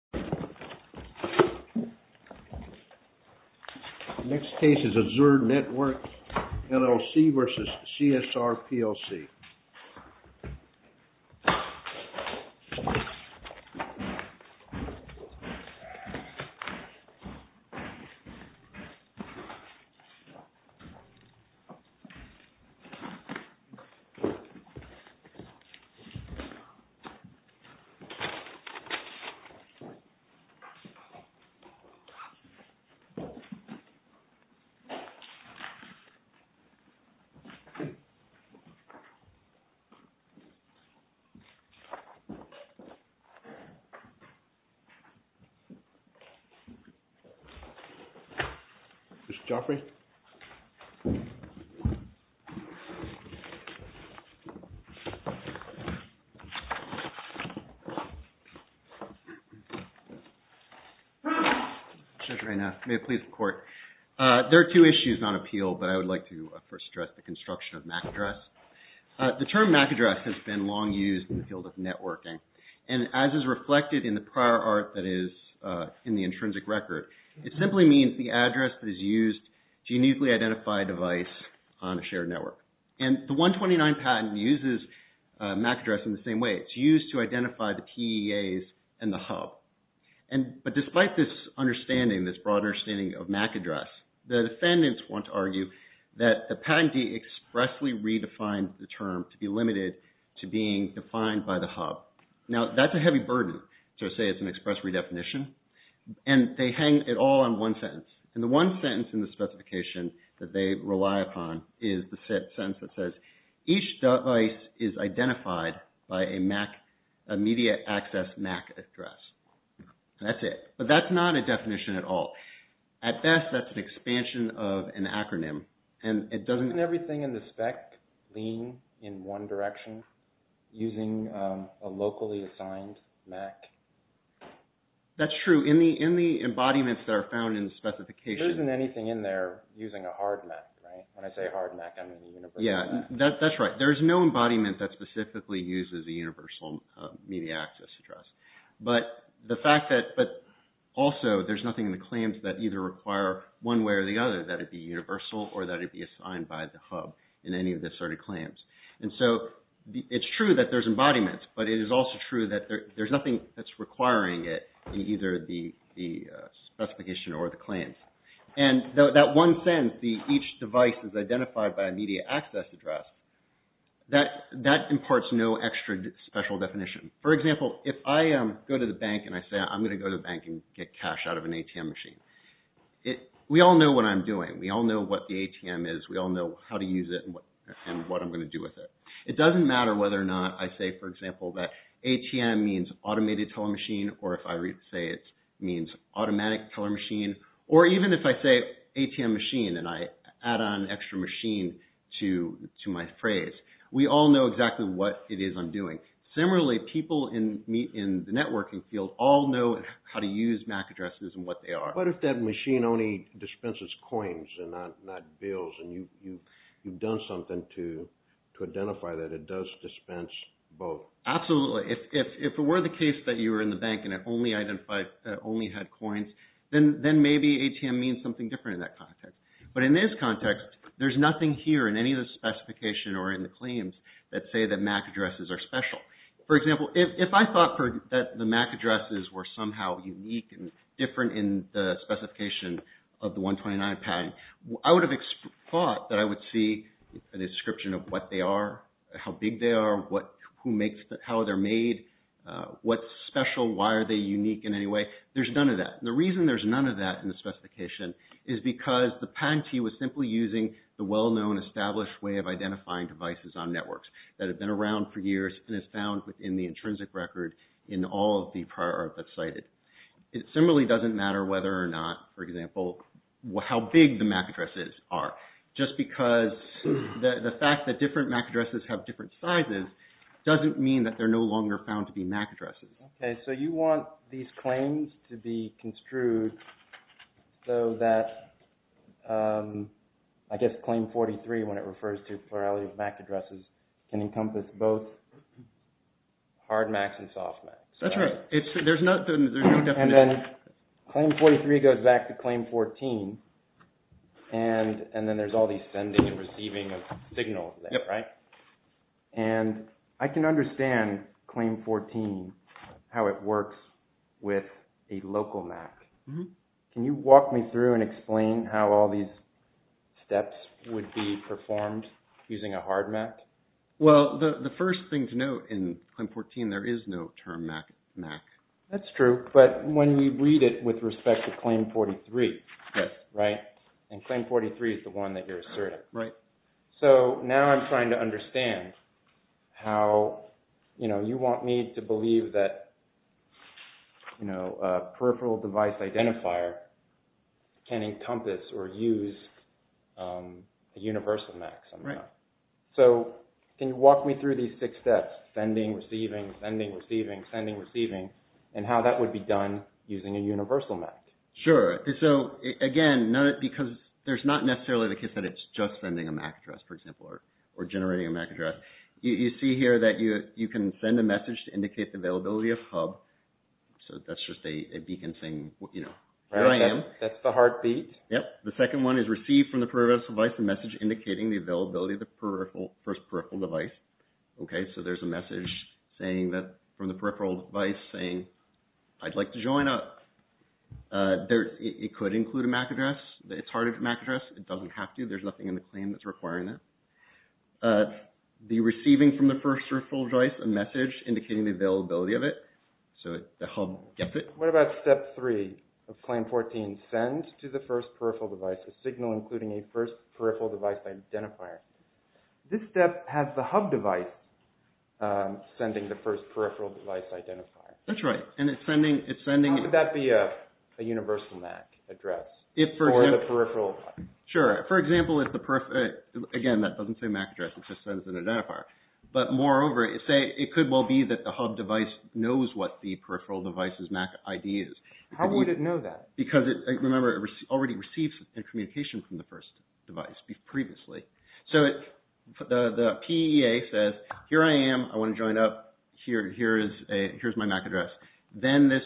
Next case is Azure Networks, LLC v. CSR, plc Next case is Azure Networks, LLC v. CSR, plc There are two issues on appeal, but I would like to first address the construction of MAC address. The term MAC address has been long used in the field of networking, and as is reflected in the prior art that is in the intrinsic record, it simply means the address that is used to uniquely identify a device on a shared network. And the 129 patent uses MAC address in the same way. It is used to identify the PEAs and the hub. But despite this understanding, this broader understanding of MAC address, the defendants want to argue that the patentee expressly redefined the term to be limited to being defined by the hub. Now that is a heavy burden to say it is an express redefinition, and they hang it all on one sentence. And the one sentence in the specification that they rely upon is the sentence that says, each device is identified by a MAC, a media access MAC address. And that's it. But that's not a definition at all. At best, that's an expansion of an acronym. And it doesn't... Doesn't everything in the spec lean in one direction using a locally assigned MAC? That's true. In the embodiments that are found in the specification... When I say hard MAC, I mean universal MAC. Yeah, that's right. There is no embodiment that specifically uses a universal media access address. But the fact that... But also, there's nothing in the claims that either require one way or the other that it be universal or that it be assigned by the hub in any of the asserted claims. And so, it's true that there's embodiments, but it is also true that there's nothing that's requiring it in either the specification or the claims. And that one sentence, the each device is identified by a media access address, that imparts no extra special definition. For example, if I go to the bank and I say, I'm going to go to the bank and get cash out of an ATM machine. We all know what I'm doing. We all know what the ATM is. We all know how to use it and what I'm going to do with it. It doesn't matter whether or not I say, for example, that ATM means automated teller machine or if I say it means automatic teller machine or even if I say ATM machine and I add on extra machine to my phrase. We all know exactly what it is I'm doing. Similarly, people in the networking field all know how to use MAC addresses and what they are. What if that machine only dispenses coins and not bills and you've done something to identify that it does dispense both? Absolutely. If it were the case that you were in the bank and it only identified... Only maybe ATM means something different in that context. But in this context, there's nothing here in any of the specification or in the claims that say that MAC addresses are special. For example, if I thought that the MAC addresses were somehow unique and different in the specification of the 129 pad, I would have thought that I would see a description of what they are, how big they are, how they're made, what's special, why are they unique in any way. There's none of that in the specification. It's because the patentee was simply using the well-known established way of identifying devices on networks that have been around for years and is found within the intrinsic record in all of the prior art that's cited. It similarly doesn't matter whether or not, for example, how big the MAC addresses are. Just because the fact that different MAC addresses have different sizes doesn't mean that they're no longer found to be MAC addresses. Okay. So you want these claims to be construed so that, I guess, Claim 43, when it refers to plurality of MAC addresses, can encompass both hard MACs and soft MACs. That's right. There's no definition. And then Claim 43 goes back to Claim 14 and then there's all these sending and receiving of signals there, right? And I can understand Claim 14, how it works with a local MAC. Can you walk me through and explain how all these steps would be performed using a hard MAC? Well, the first thing to note in Claim 14, there is no term MAC. That's true. But when we read it with respect to Claim 43, yes, right? And Claim 43 is the one that you're asserting. So now I'm trying to understand how, you know, you want me to believe that a peripheral device identifier can encompass or use a universal MAC somehow. So can you walk me through these six steps, sending, receiving, sending, receiving, sending, receiving, and how that would be done using a universal MAC? Sure. So again, because there's not necessarily the case that it's just sending a MAC address, for example, or generating a MAC address. You see here that you can send a message to indicate the availability of hub. So that's just a beacon saying, you know, where I am. That's the heartbeat. Yep. The second one is receive from the peripheral device a message indicating the availability of the first peripheral device. Okay. So there's a message from the peripheral device saying, I'd like to join up. It could include a MAC address. It's hard to get a MAC address. It doesn't have to. There's nothing in the claim that's requiring that. The receiving from the first peripheral device, a message indicating the availability of it. So the hub gets it. What about step three of Claim 14, send to the first peripheral device a signal including a first peripheral device identifier? This step has the hub device sending the first peripheral device identifier. That's right. And it's sending... How would that be a universal MAC address? Or the peripheral? Sure. For example, if the... Again, that doesn't say MAC address. It just sends an identifier. But moreover, it could well be that the hub device knows what the peripheral device's MAC ID is. How would it know that? Because, remember, it already receives a communication from the first device previously. So the PEA says, here I am. I want to join up. Here's my MAC address. Then this...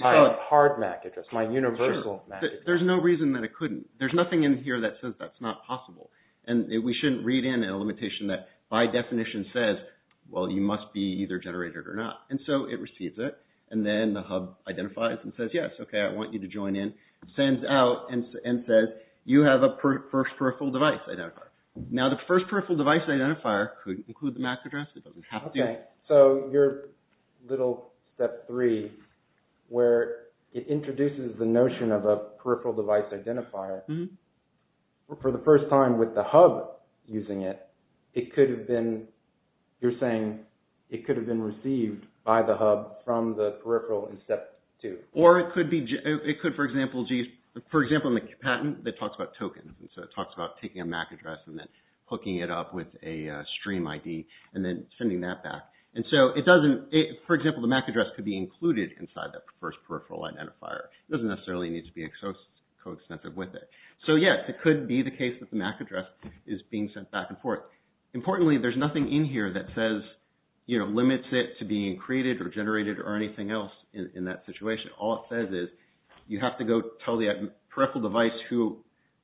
My hard MAC address, my universal MAC address. There's no reason that it couldn't. There's nothing in here that says that's not possible. And we shouldn't read in a limitation that by definition says, well, you must be either generated or not. And so it receives it. And then the hub identifies and says, yes, okay, I want you to join in. Sends out and says, you have a first peripheral device identifier. Now, the first peripheral device identifier could include the MAC address. It doesn't have to. Okay. So your little step three, where it introduces the notion of a peripheral device identifier, for the first time with the hub using it, it could have been... You're saying it could have been received by the hub from the peripheral in step two. Or it could be... It could, for example... For example, a patent that talks about tokens. And so it talks about taking a MAC address and then hooking it up with a stream ID and then sending that back. And so it doesn't... For example, the MAC address could be included inside that first peripheral identifier. It doesn't necessarily need to be coextensive with it. So yes, it could be the case that the MAC address is being sent back and forth. Importantly, there's nothing in here that says, you know, limits it to being created or generated or anything else in that situation. All it says is, you have to go tell the peripheral device who,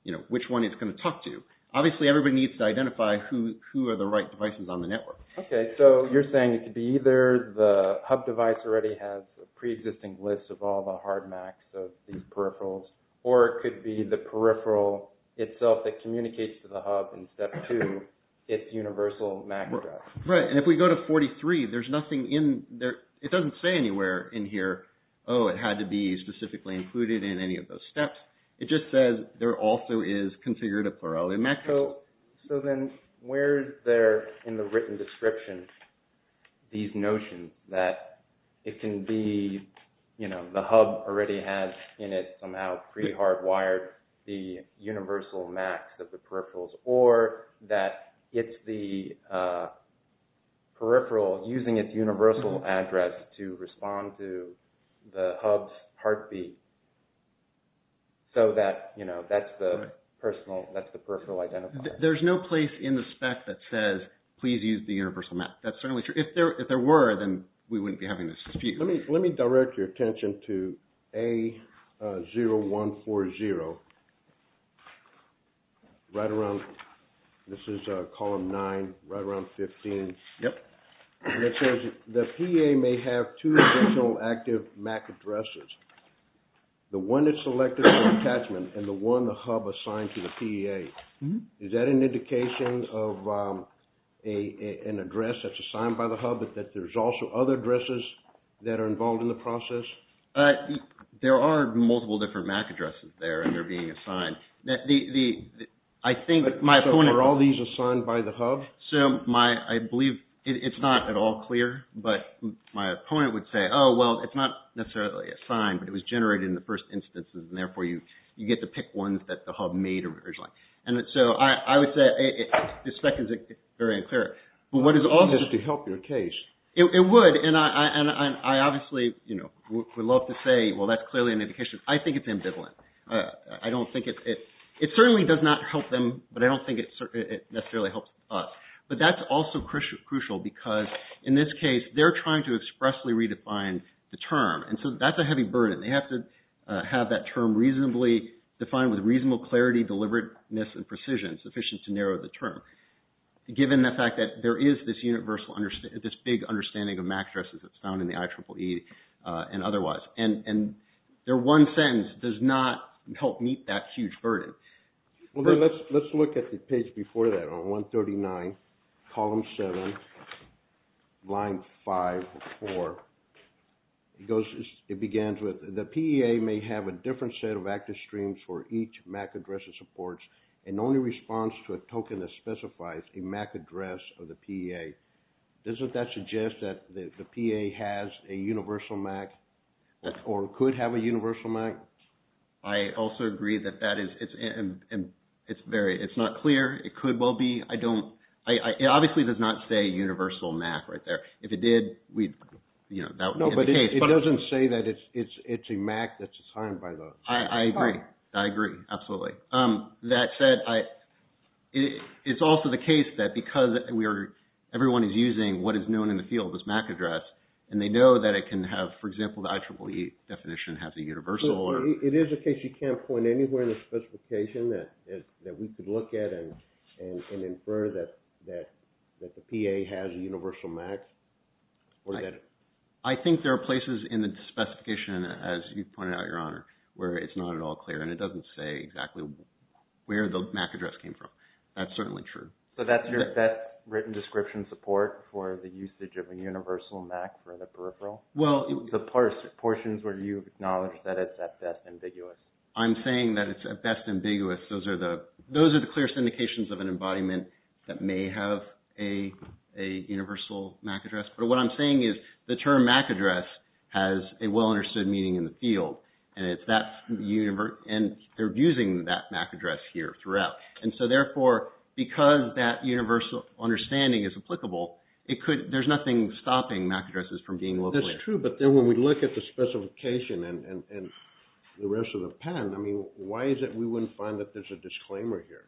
you know, which one it's going to talk to. Obviously, everybody needs to identify who are the right devices on the network. Okay. So you're saying it could be either the hub device already has a pre-existing list of all the hard MACs of these peripherals, or it could be the peripheral itself that communicates to the hub in step two, its universal MAC address. Right. And if we go to 43, there's nothing in there... It doesn't say anywhere in here, oh, it had to be specifically included in any of those steps. It just says there also is considered a plurality of MAC addresses. So then where's there in the written description these notions that it can be, you know, the hub already has in it somehow pre-hardwired the universal MACs of the peripherals, or that it's the peripheral using its universal address to respond to the hub's heartbeat, so that, you know, that's the personal, that's the peripheral identifier. There's no place in the spec that says, please use the universal MAC. That's certainly true. If there were, then we wouldn't be having this dispute. Let me direct your attention to A0140. Right around, this is column nine, right around 15. Yep. It says the PEA may have two additional active MAC addresses. The one that's selected for attachment and the one the hub assigned to the PEA. Is that an indication of an address that's assigned by the hub, but that there's also other addresses that are involved in the process? There are multiple different MAC addresses there, and they're being assigned. I think my point... So are all these assigned by the hub? So my, I believe it's not at all clear, but my opponent would say, oh, well, it's not necessarily assigned, but it was generated in the first instances, and therefore you get to pick ones that the hub made originally. And so I would say the spec is very unclear. But what is also... Just to help your case. It would, and I obviously would love to say, well, that's clearly an indication. I think it's ambivalent. I don't think it, it certainly does not help them, but I don't think it necessarily helps us. But that's also crucial because in this case, they're trying to expressly redefine the term. And so that's a heavy burden. They have to have that term reasonably defined with reasonable clarity, deliberateness, and precision sufficient to narrow the term. Given the fact that there is this universal, this big understanding of MAC addresses that's found in the IEEE and otherwise. And their one sentence does not help meet that huge burden. Well, let's look at the page before that on 139, column seven, line five, four. It goes, it begins with, the PEA may have a different set of active streams for each MAC address it supports and only responds to a token that specifies a MAC address of the PEA. Doesn't that suggest that the PEA has a universal MAC or could have a universal MAC? I also agree that that is, it's very, it's not clear. It could well be. I don't, it obviously does not say universal MAC right there. If it did, we'd, you know, that would be the case. It doesn't say that it's a MAC that's assigned by the PEA. I agree. I agree. Absolutely. That said, it's also the case that because we are, everyone is using what is known in the field as MAC address, and they know that it can have, for example, the IEEE definition has a universal or... It is a case you can't point anywhere in the specification that we could look at and infer that the PEA has a universal MAC or that it... I think there are places in the specification, as you pointed out, Your Honor, where it's not at all clear and it doesn't say exactly where the MAC address came from. That's certainly true. So that's your best written description support for the usage of a universal MAC for the peripheral? Well... The portions where you acknowledge that it's at best ambiguous. I'm saying that it's at best ambiguous. Those are the clearest indications of an embodiment that may have a universal MAC address. But what I'm saying is the term MAC address has a well-understood meaning in the field and it's that universe... And they're using that MAC address here throughout. And so therefore, because that universal understanding is applicable, it could... There's nothing stopping MAC addresses from being locally... That's true. But then when we look at the specification and the rest of the patent, I mean, why is it we wouldn't find that there's a disclaimer here?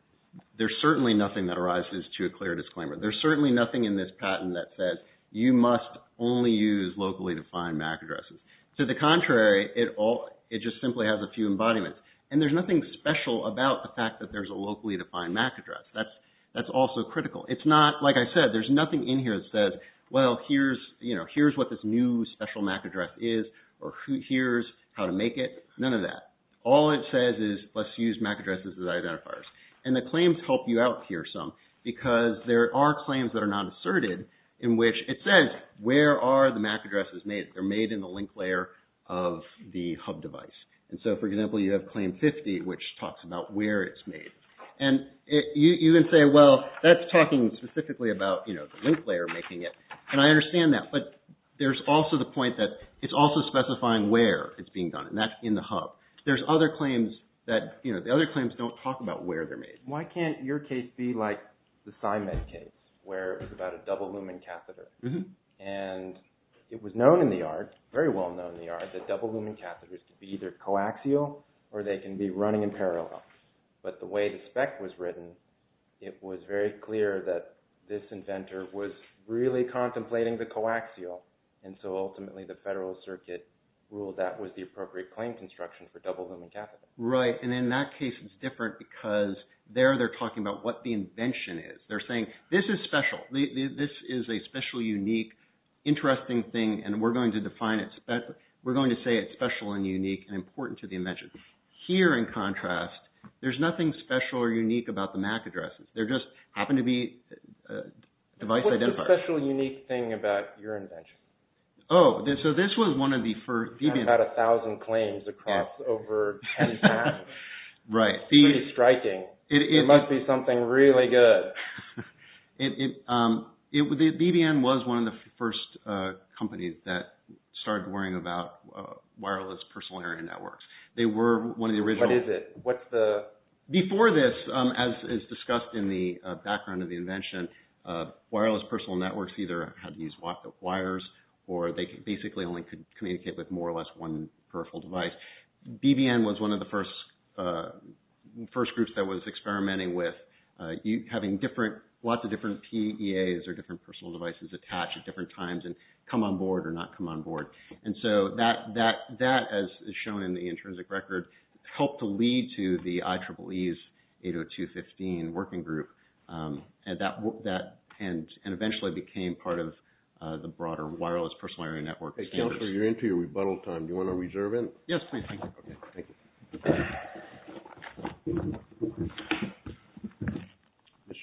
There's certainly nothing that arises to a clear disclaimer. There's certainly nothing in this patent that says you must only use locally defined MAC addresses. To the contrary, it just simply has a few embodiments. And there's nothing special about the fact that there's a locally defined MAC address. That's also critical. It's not... Like I said, there's nothing in here that says, well, here's what this new special MAC address is, or here's how to make it. None of that. All it says is let's use MAC addresses as identifiers. And the claims help you out here some because there are claims that are not asserted in which it says, where are the MAC addresses made? They're made in the link layer of the hub device. And so, for example, you have claim 50, which talks about where it's made. And you can say, well, that's talking specifically about the link layer making it. And I understand that. But there's also the point that it's also specifying where it's being done. And that's in the hub. There's other claims that... The other claims don't talk about where they're made. Why can't your case be like the Simon case, where it's about a double lumen catheter? And it was known in the art, very well-known in the art, that double lumen catheters could be either coaxial, or they can be running in parallel. But the way the spec was written, it was very clear that this inventor was really contemplating the coaxial. And so, ultimately, the Federal Circuit ruled that was the appropriate claim construction for double lumen catheters. Right. And in that case, it's different because there they're talking about what the invention is. They're saying, this is special. This is a special, unique, interesting thing. And we're going to define it. We're going to say it's special and unique and important to the invention. Here, in contrast, there's nothing special or unique about the MAC addresses. They just happen to be device identifiers. What's the special, unique thing about your invention? Oh, so this was one of the first... I've had a thousand claims across over 10 times. Right. It's pretty striking. It must be something really good. BBN was one of the first companies that started worrying about wireless personal area networks. They were one of the original... What is it? What's the... Before this, as is discussed in the background of the invention, wireless personal networks either had to use wires or they basically only could communicate with more or less one peripheral device. BBN was one of the first groups that was experimenting with having lots of different PEAs or different personal devices attached at different times and come on board or not come on board. And so that, as shown in the intrinsic record, helped to lead to the IEEE's 80215 working group. And eventually became part of the broader wireless personal area network. Hey, Councilor, you're into your rebuttal time. Do you want to reserve it? Yes, please. Thank you. Okay. Thank you.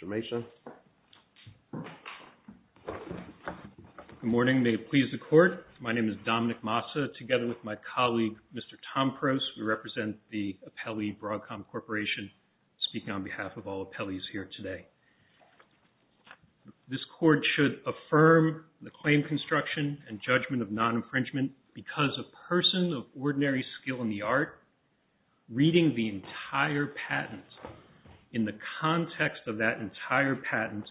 Mr. Mason. Good morning. May it please the Court. My name is Dominic Massa. Together with my colleague, Mr. Tom Prost, we represent the Appellee Broadcom Corporation, speaking on behalf of all appellees here today. This Court should affirm the claim construction and judgment of non-infringement because a person of ordinary skill in the art, reading the entire patent in the context of that entire patent,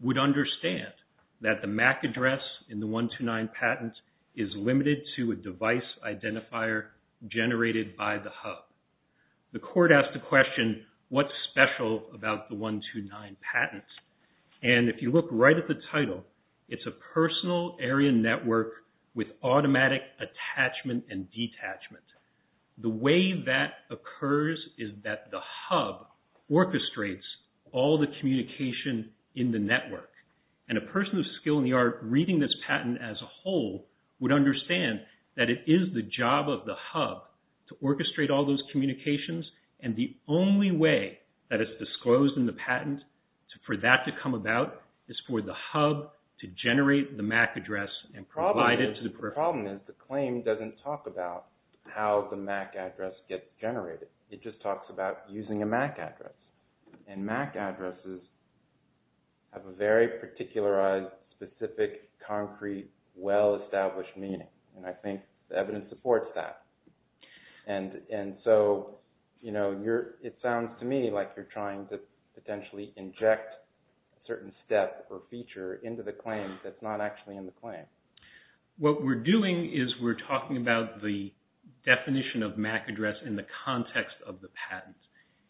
would understand that the MAC address in the 129 patent is limited to a device identifier generated by the hub. The Court asked the question, what's special about the 129 patent? And if you look right at the title, it's a personal area network with automatic attachment and detachment. The way that occurs is that the hub orchestrates all the communication in the network. And a person of skill in the art reading this patent as a whole would understand that it is the job of the hub to orchestrate all those communications. And the only way that it's disclosed in the patent for that to come about is for the hub to generate the MAC address and provide it to the person. The problem is the claim doesn't talk about how the MAC address gets generated. It just talks about using a MAC address. And MAC addresses have a very particularized, specific, concrete, well-established meaning. And I think the evidence supports that. And so, you know, it sounds to me like you're trying to potentially inject a certain step or feature into the claim that's not actually in the claim. What we're doing is we're talking about the definition of MAC address in the context of the patent.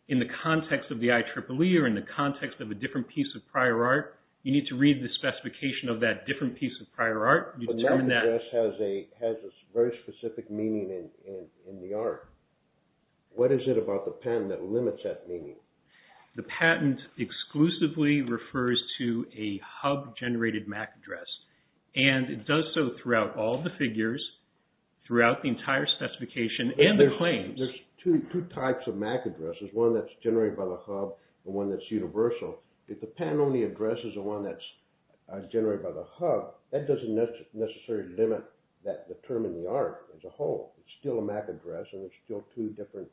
In the context of the IEEE or in the context of a different piece of prior art, you need to read the specification of that different piece of prior art. But MAC address has a very specific meaning in the art. What is it about the patent that limits that meaning? The patent exclusively refers to a hub-generated MAC address. And it does so throughout all the figures, throughout the entire specification, and the claims. There's two types of MAC addresses. One that's generated by the hub and one that's universal. If the patent-only address is the one that's generated by the hub, that doesn't necessarily limit the term in the art as a whole. It's still a MAC address and there's still two different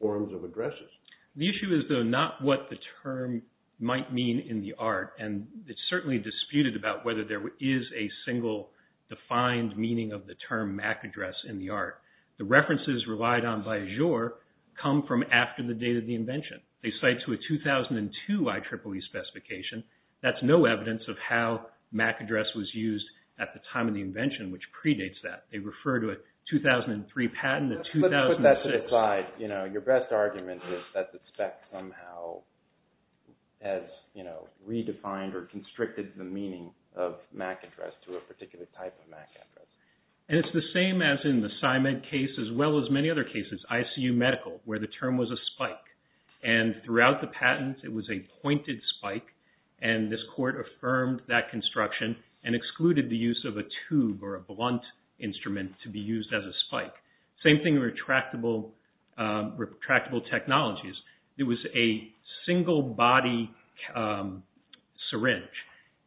forms of addresses. The issue is, though, not what the term might mean in the art. And it's certainly disputed about whether there is a single defined meaning of the term MAC address in the art. The references relied on by Azure come from after the date of the invention. They cite to a 2002 IEEE specification. That's no evidence of how MAC address was used at the time of the invention, which predates that. They refer to a 2003 patent. Let's put that to the side. Your best argument is that the spec somehow has redefined or constricted the meaning of MAC address to a particular type of MAC address. And it's the same as in the PsyMed case, as well as many other cases, ICU medical, where the term was a spike. And throughout the patent, it was a pointed spike. And this court affirmed that construction and excluded the use of a tube or a blunt instrument to be used as a spike. Same thing with retractable technologies. It was a single body syringe.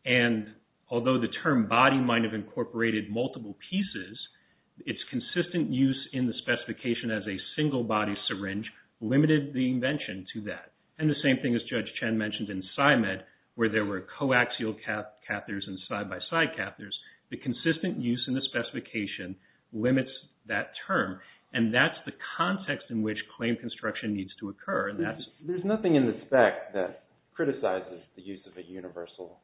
And although the term body might have incorporated multiple pieces, its consistent use in the specification as a single body syringe limited the invention to that. And the same thing as Judge Chen mentioned in PsyMed, where there were coaxial catheters and side-by-side catheters, the consistent use in the specification limits that term. And that's the context in which claim construction needs to occur. GEOFFREY HINTON There's nothing in the spec that criticizes the use of a universal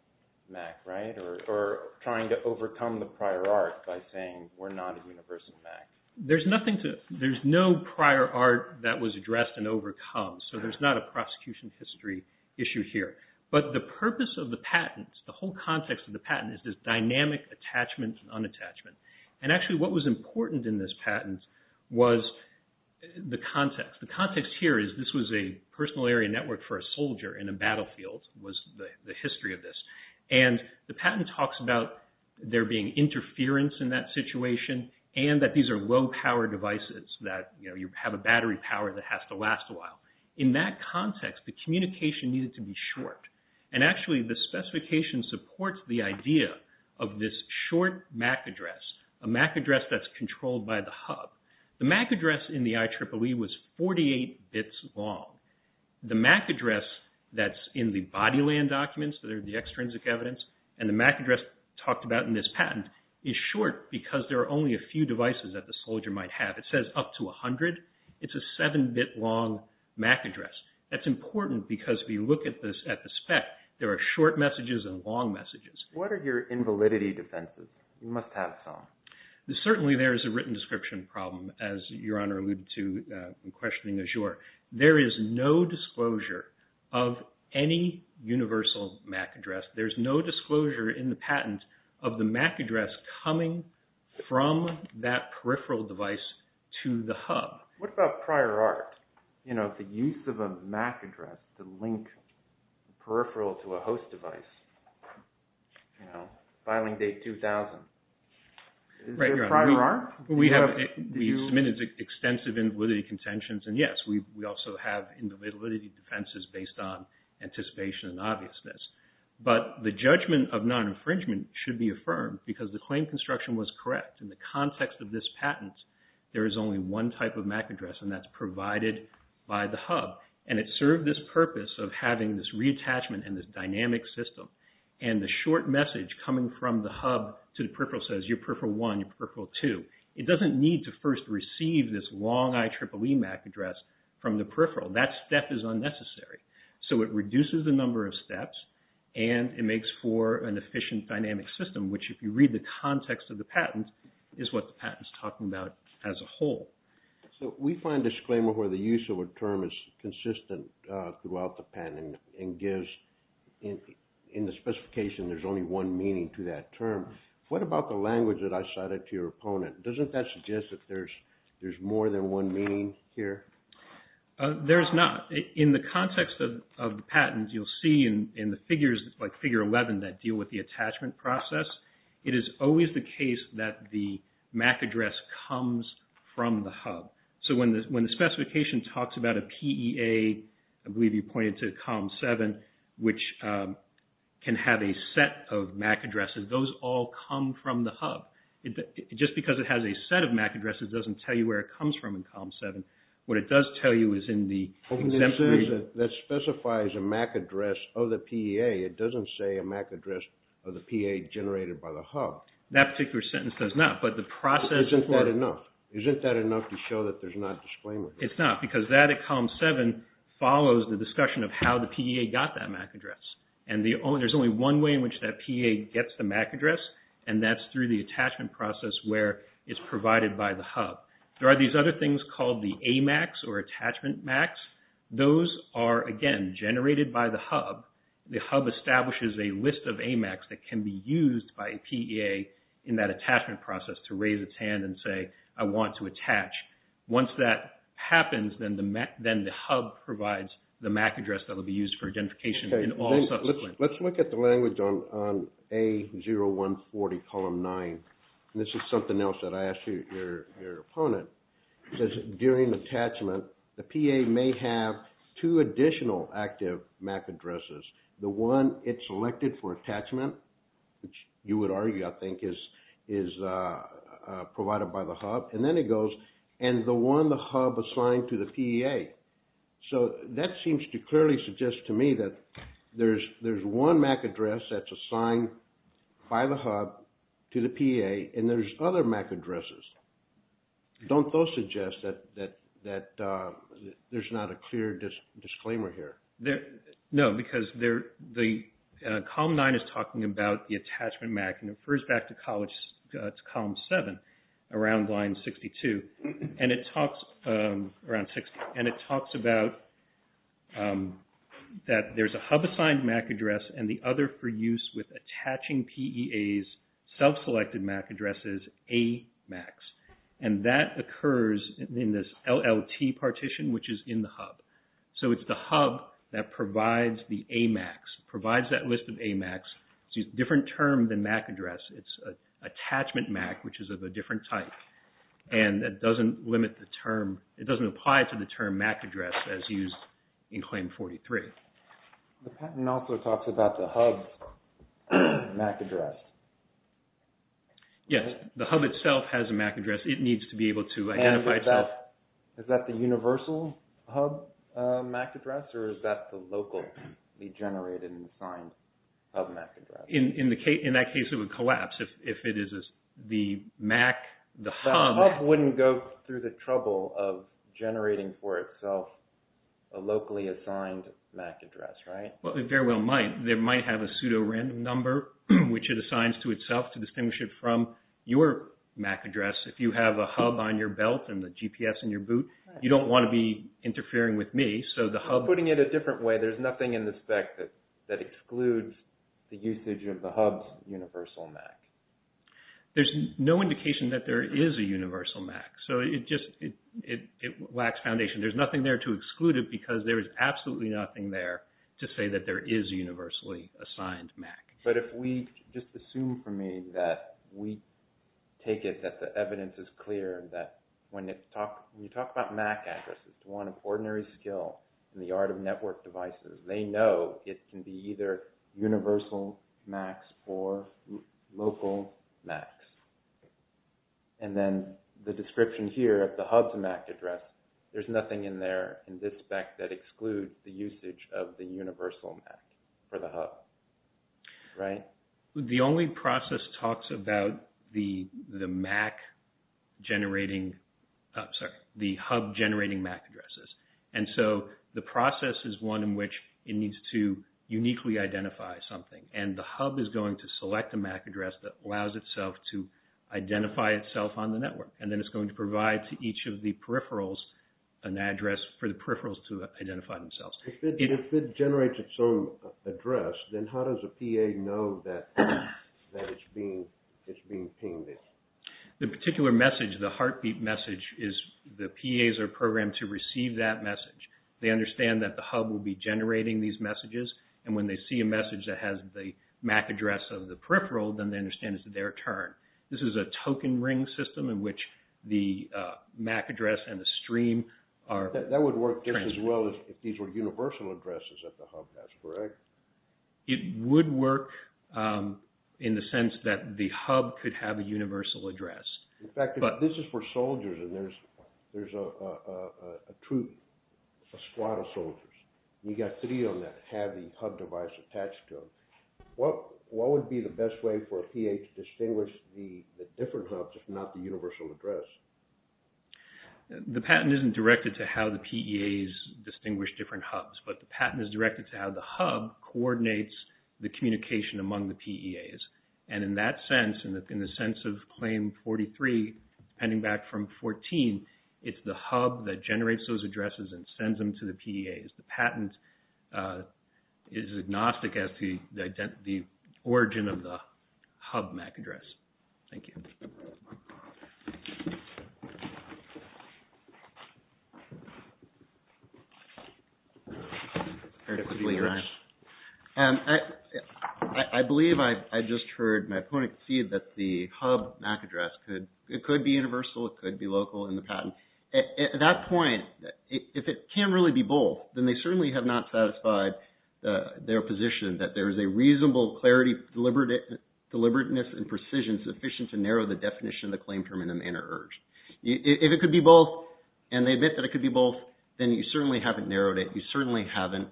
MAC, right? Or trying to overcome the prior art by saying, we're not a universal MAC. GEOFFREY HINTON There's nothing to... There's no prior art that was addressed and overcome. So there's not a prosecution history issue here. But the purpose of the patent, the whole context of the patent is this dynamic attachment and unattachment. And actually what was important in this patent was the context. The context here is this was a personal area network for a soldier in a battlefield, was the history of this. And the patent talks about there being interference in that situation and that these are low power devices that, you know, you have a battery power that has to last a while. In that context, the communication needed to be short. And actually the specification supports the idea of this short MAC address, a MAC address that's controlled by the hub. The MAC address in the IEEE was 48 bits long. The MAC address that's in the body land documents that are the extrinsic evidence and the MAC address talked about in this patent is short because there are only a few devices that the soldier might have. It says up to 100. It's a seven bit long MAC address. That's important because if you look at this at the spec, there are short messages and long messages. What are your invalidity defenses? You must have some. Certainly there is a written description problem, as Your Honor alluded to in questioning Azure. There is no disclosure of any universal MAC address. There's no disclosure in the patent of the MAC address coming from that peripheral device to the hub. What about prior art? You know, the use of a MAC address to link peripheral to a host device, you know, filing date 2000. Is there prior art? We have submitted extensive invalidity contentions. And yes, we also have invalidity defenses based on anticipation and obviousness. But the judgment of non-infringement should be affirmed because the claim construction was correct. In the context of this patent, there is only one type of MAC address and that's provided by the hub. And it served this purpose of having this reattachment and this dynamic system. And the short message coming from the hub to the peripheral says, your peripheral one, your peripheral two. It doesn't need to first receive this long IEEE MAC address from the peripheral. That step is unnecessary. So it reduces the number of steps and it makes for an efficient dynamic system, which if you read the context of the patent, is what the patent is talking about as a whole. So we find disclaimer where the use of a term is consistent throughout the patent and gives in the specification, there's only one meaning to that term. What about the language that I cited to your opponent? Doesn't that suggest that there's more than one meaning here? There's not. In the context of the patent, you'll see in the figures, like figure 11 that deal with the attachment process, it is always the case that the MAC address comes from the hub. So when the specification talks about a PEA, I believe you pointed to column seven, which can have a set of MAC addresses, those all come from the hub. Just because it has a set of MAC addresses, doesn't tell you where it comes from in column seven. What it does tell you is in the... That specifies a MAC address of the PEA. It doesn't say a MAC address of the PEA generated by the hub. That particular sentence does not, but the process... Isn't that enough? Isn't that enough to show that there's not disclaimer? It's not, because that at column seven follows the discussion of how the PEA got that MAC address. And there's only one way in which that PEA gets the MAC address, and that's through the attachment process where it's provided by the hub. There are these other things called the AMACs or attachment MACs. Those are, again, generated by the hub. The hub establishes a list of AMACs that can be used by a PEA in that attachment process to raise its hand and say, I want to attach. Once that happens, then the hub provides the MAC address that will be used for identification in all subsequent... Let's look at the language on A0140 column nine. This is something else that I asked your opponent. It says, during attachment, the PEA may have two additional active MAC addresses. The one it selected for attachment, which you would argue, I think, is provided by the hub. And then it goes, and the one the hub assigned to the PEA. So that seems to clearly suggest to me that there's one MAC address that's assigned by the hub to the PEA, and there's other MAC addresses. Don't those suggest that there's not a clear disclaimer here? No, because column nine is talking about the attachment MAC, and it refers back to column seven, around line 62. It talks about that there's a hub-assigned MAC address and the other for use with attaching PEA's self-selected MAC addresses, AMACs. And that occurs in this LLT partition, which is in the hub. So it's the hub that provides the AMACs, provides that list of AMACs. It's a different term than MAC address. It's an attachment MAC, which is of a different type. And that doesn't limit the term. It doesn't apply to the term MAC address as used in claim 43. The patent also talks about the hub MAC address. Yes, the hub itself has a MAC address. It needs to be able to identify itself. Is that the universal hub MAC address, or is that the locally generated and assigned hub MAC address? In that case, it would collapse if it is the MAC, the hub. The hub wouldn't go through the trouble of generating for itself a locally assigned MAC address, right? Well, it very well might. They might have a pseudo-random number, which it assigns to itself to distinguish it from your MAC address. If you have a hub on your belt and the GPS in your boot, you don't want to be interfering with me. So the hub... Putting it a different way, there's nothing in the spec that excludes the usage of the hub's universal MAC. There's no indication that there is a universal MAC. So it just, it lacks foundation. There's nothing there to exclude it because there is absolutely nothing there to say that there is a universally assigned MAC. But if we just assume for me that we take it that the evidence is clear, that when you talk about MAC addresses, one of ordinary skill in the art of network devices, they know it can be either universal MACs or local MACs. And then the description here at the hub's MAC address, there's nothing in there in this spec that excludes the usage of the universal MAC for the hub. The only process talks about the MAC generating... I'm sorry, the hub generating MAC addresses. And so the process is one in which it needs to uniquely identify something. And the hub is going to select a MAC address that allows itself to identify itself on the network. And then it's going to provide to each of the peripherals an address for the peripherals to identify themselves. If it generates its own address, then how does a PA know that it's being pinged in? The particular message, the heartbeat message, is the PAs are programmed to receive that message. They understand that the hub will be generating these messages. And when they see a message that has the MAC address of the peripheral, then they understand it's their turn. This is a token ring system in which the MAC address and the stream are... That would work just as well if these were universal addresses at the hub, that's correct? It would work in the sense that the hub could have a universal address. In fact, this is for soldiers and there's a troop, a squad of soldiers. You got three on that have the hub device attached to them. What would be the best way for a PA to distinguish the different hubs if not the universal address? The patent isn't directed to how the PAs distinguish different hubs, but the patent is directed to how the hub coordinates the communication among the PAs. And in that sense, in the sense of claim 43, pending back from 14, it's the hub that generates those addresses and sends them to the PAs. The patent is agnostic as to the origin of the hub MAC address. Thank you. I believe I just heard my opponent see that the hub MAC address could be universal, it could be local in the patent. At that point, if it can really be both, then they certainly have not satisfied their position that there is a reasonable clarity, deliberateness and precision sufficient to narrow the definition of the claim term in a manner urged. If it could be both and they admit that it could be both, then you certainly haven't narrowed it. You certainly haven't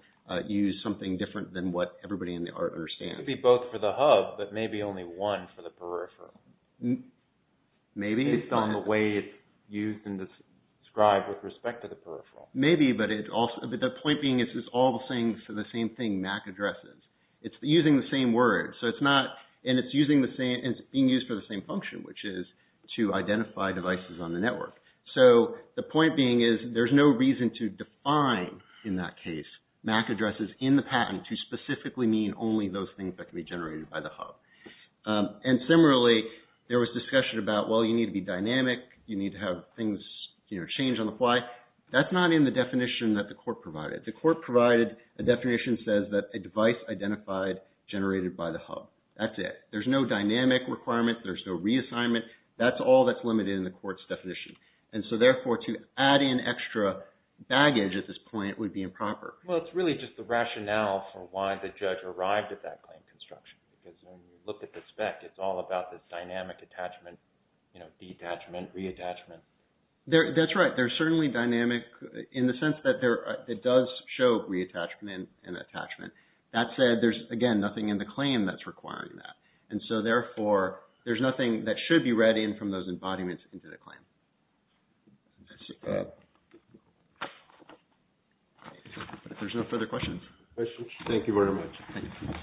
used something different than what everybody in the art understands. It could be both for the hub, but maybe only one for the peripheral. Maybe. Based on the way it's used and described with respect to the peripheral. Maybe, but the point being, it's all the same for the same thing MAC addresses. It's using the same word. And it's being used for the same function, which is to identify devices on the network. So the point being is, there's no reason to define in that case, MAC addresses in the patent to specifically mean only those things that can be generated by the hub. And similarly, there was discussion about, well, you need to be dynamic. You need to have things change on the fly. That's not in the definition that the court provided. The court provided a definition that says that a device identified generated by the hub. That's it. There's no dynamic requirement. There's no reassignment. That's all that's limited in the court's definition. So therefore, to add in extra baggage at this point would be improper. Well, it's really just the rationale for why the judge arrived at that claim construction. Because when you look at the spec, it's all about this dynamic attachment, detachment, reattachment. That's right. There's certainly dynamic in the sense that it does show reattachment and attachment. That said, there's, again, nothing in the claim that's requiring that. And so therefore, there's nothing that should be read in from those embodiments into the claim. I see. If there's no further questions. Questions? Thank you very much.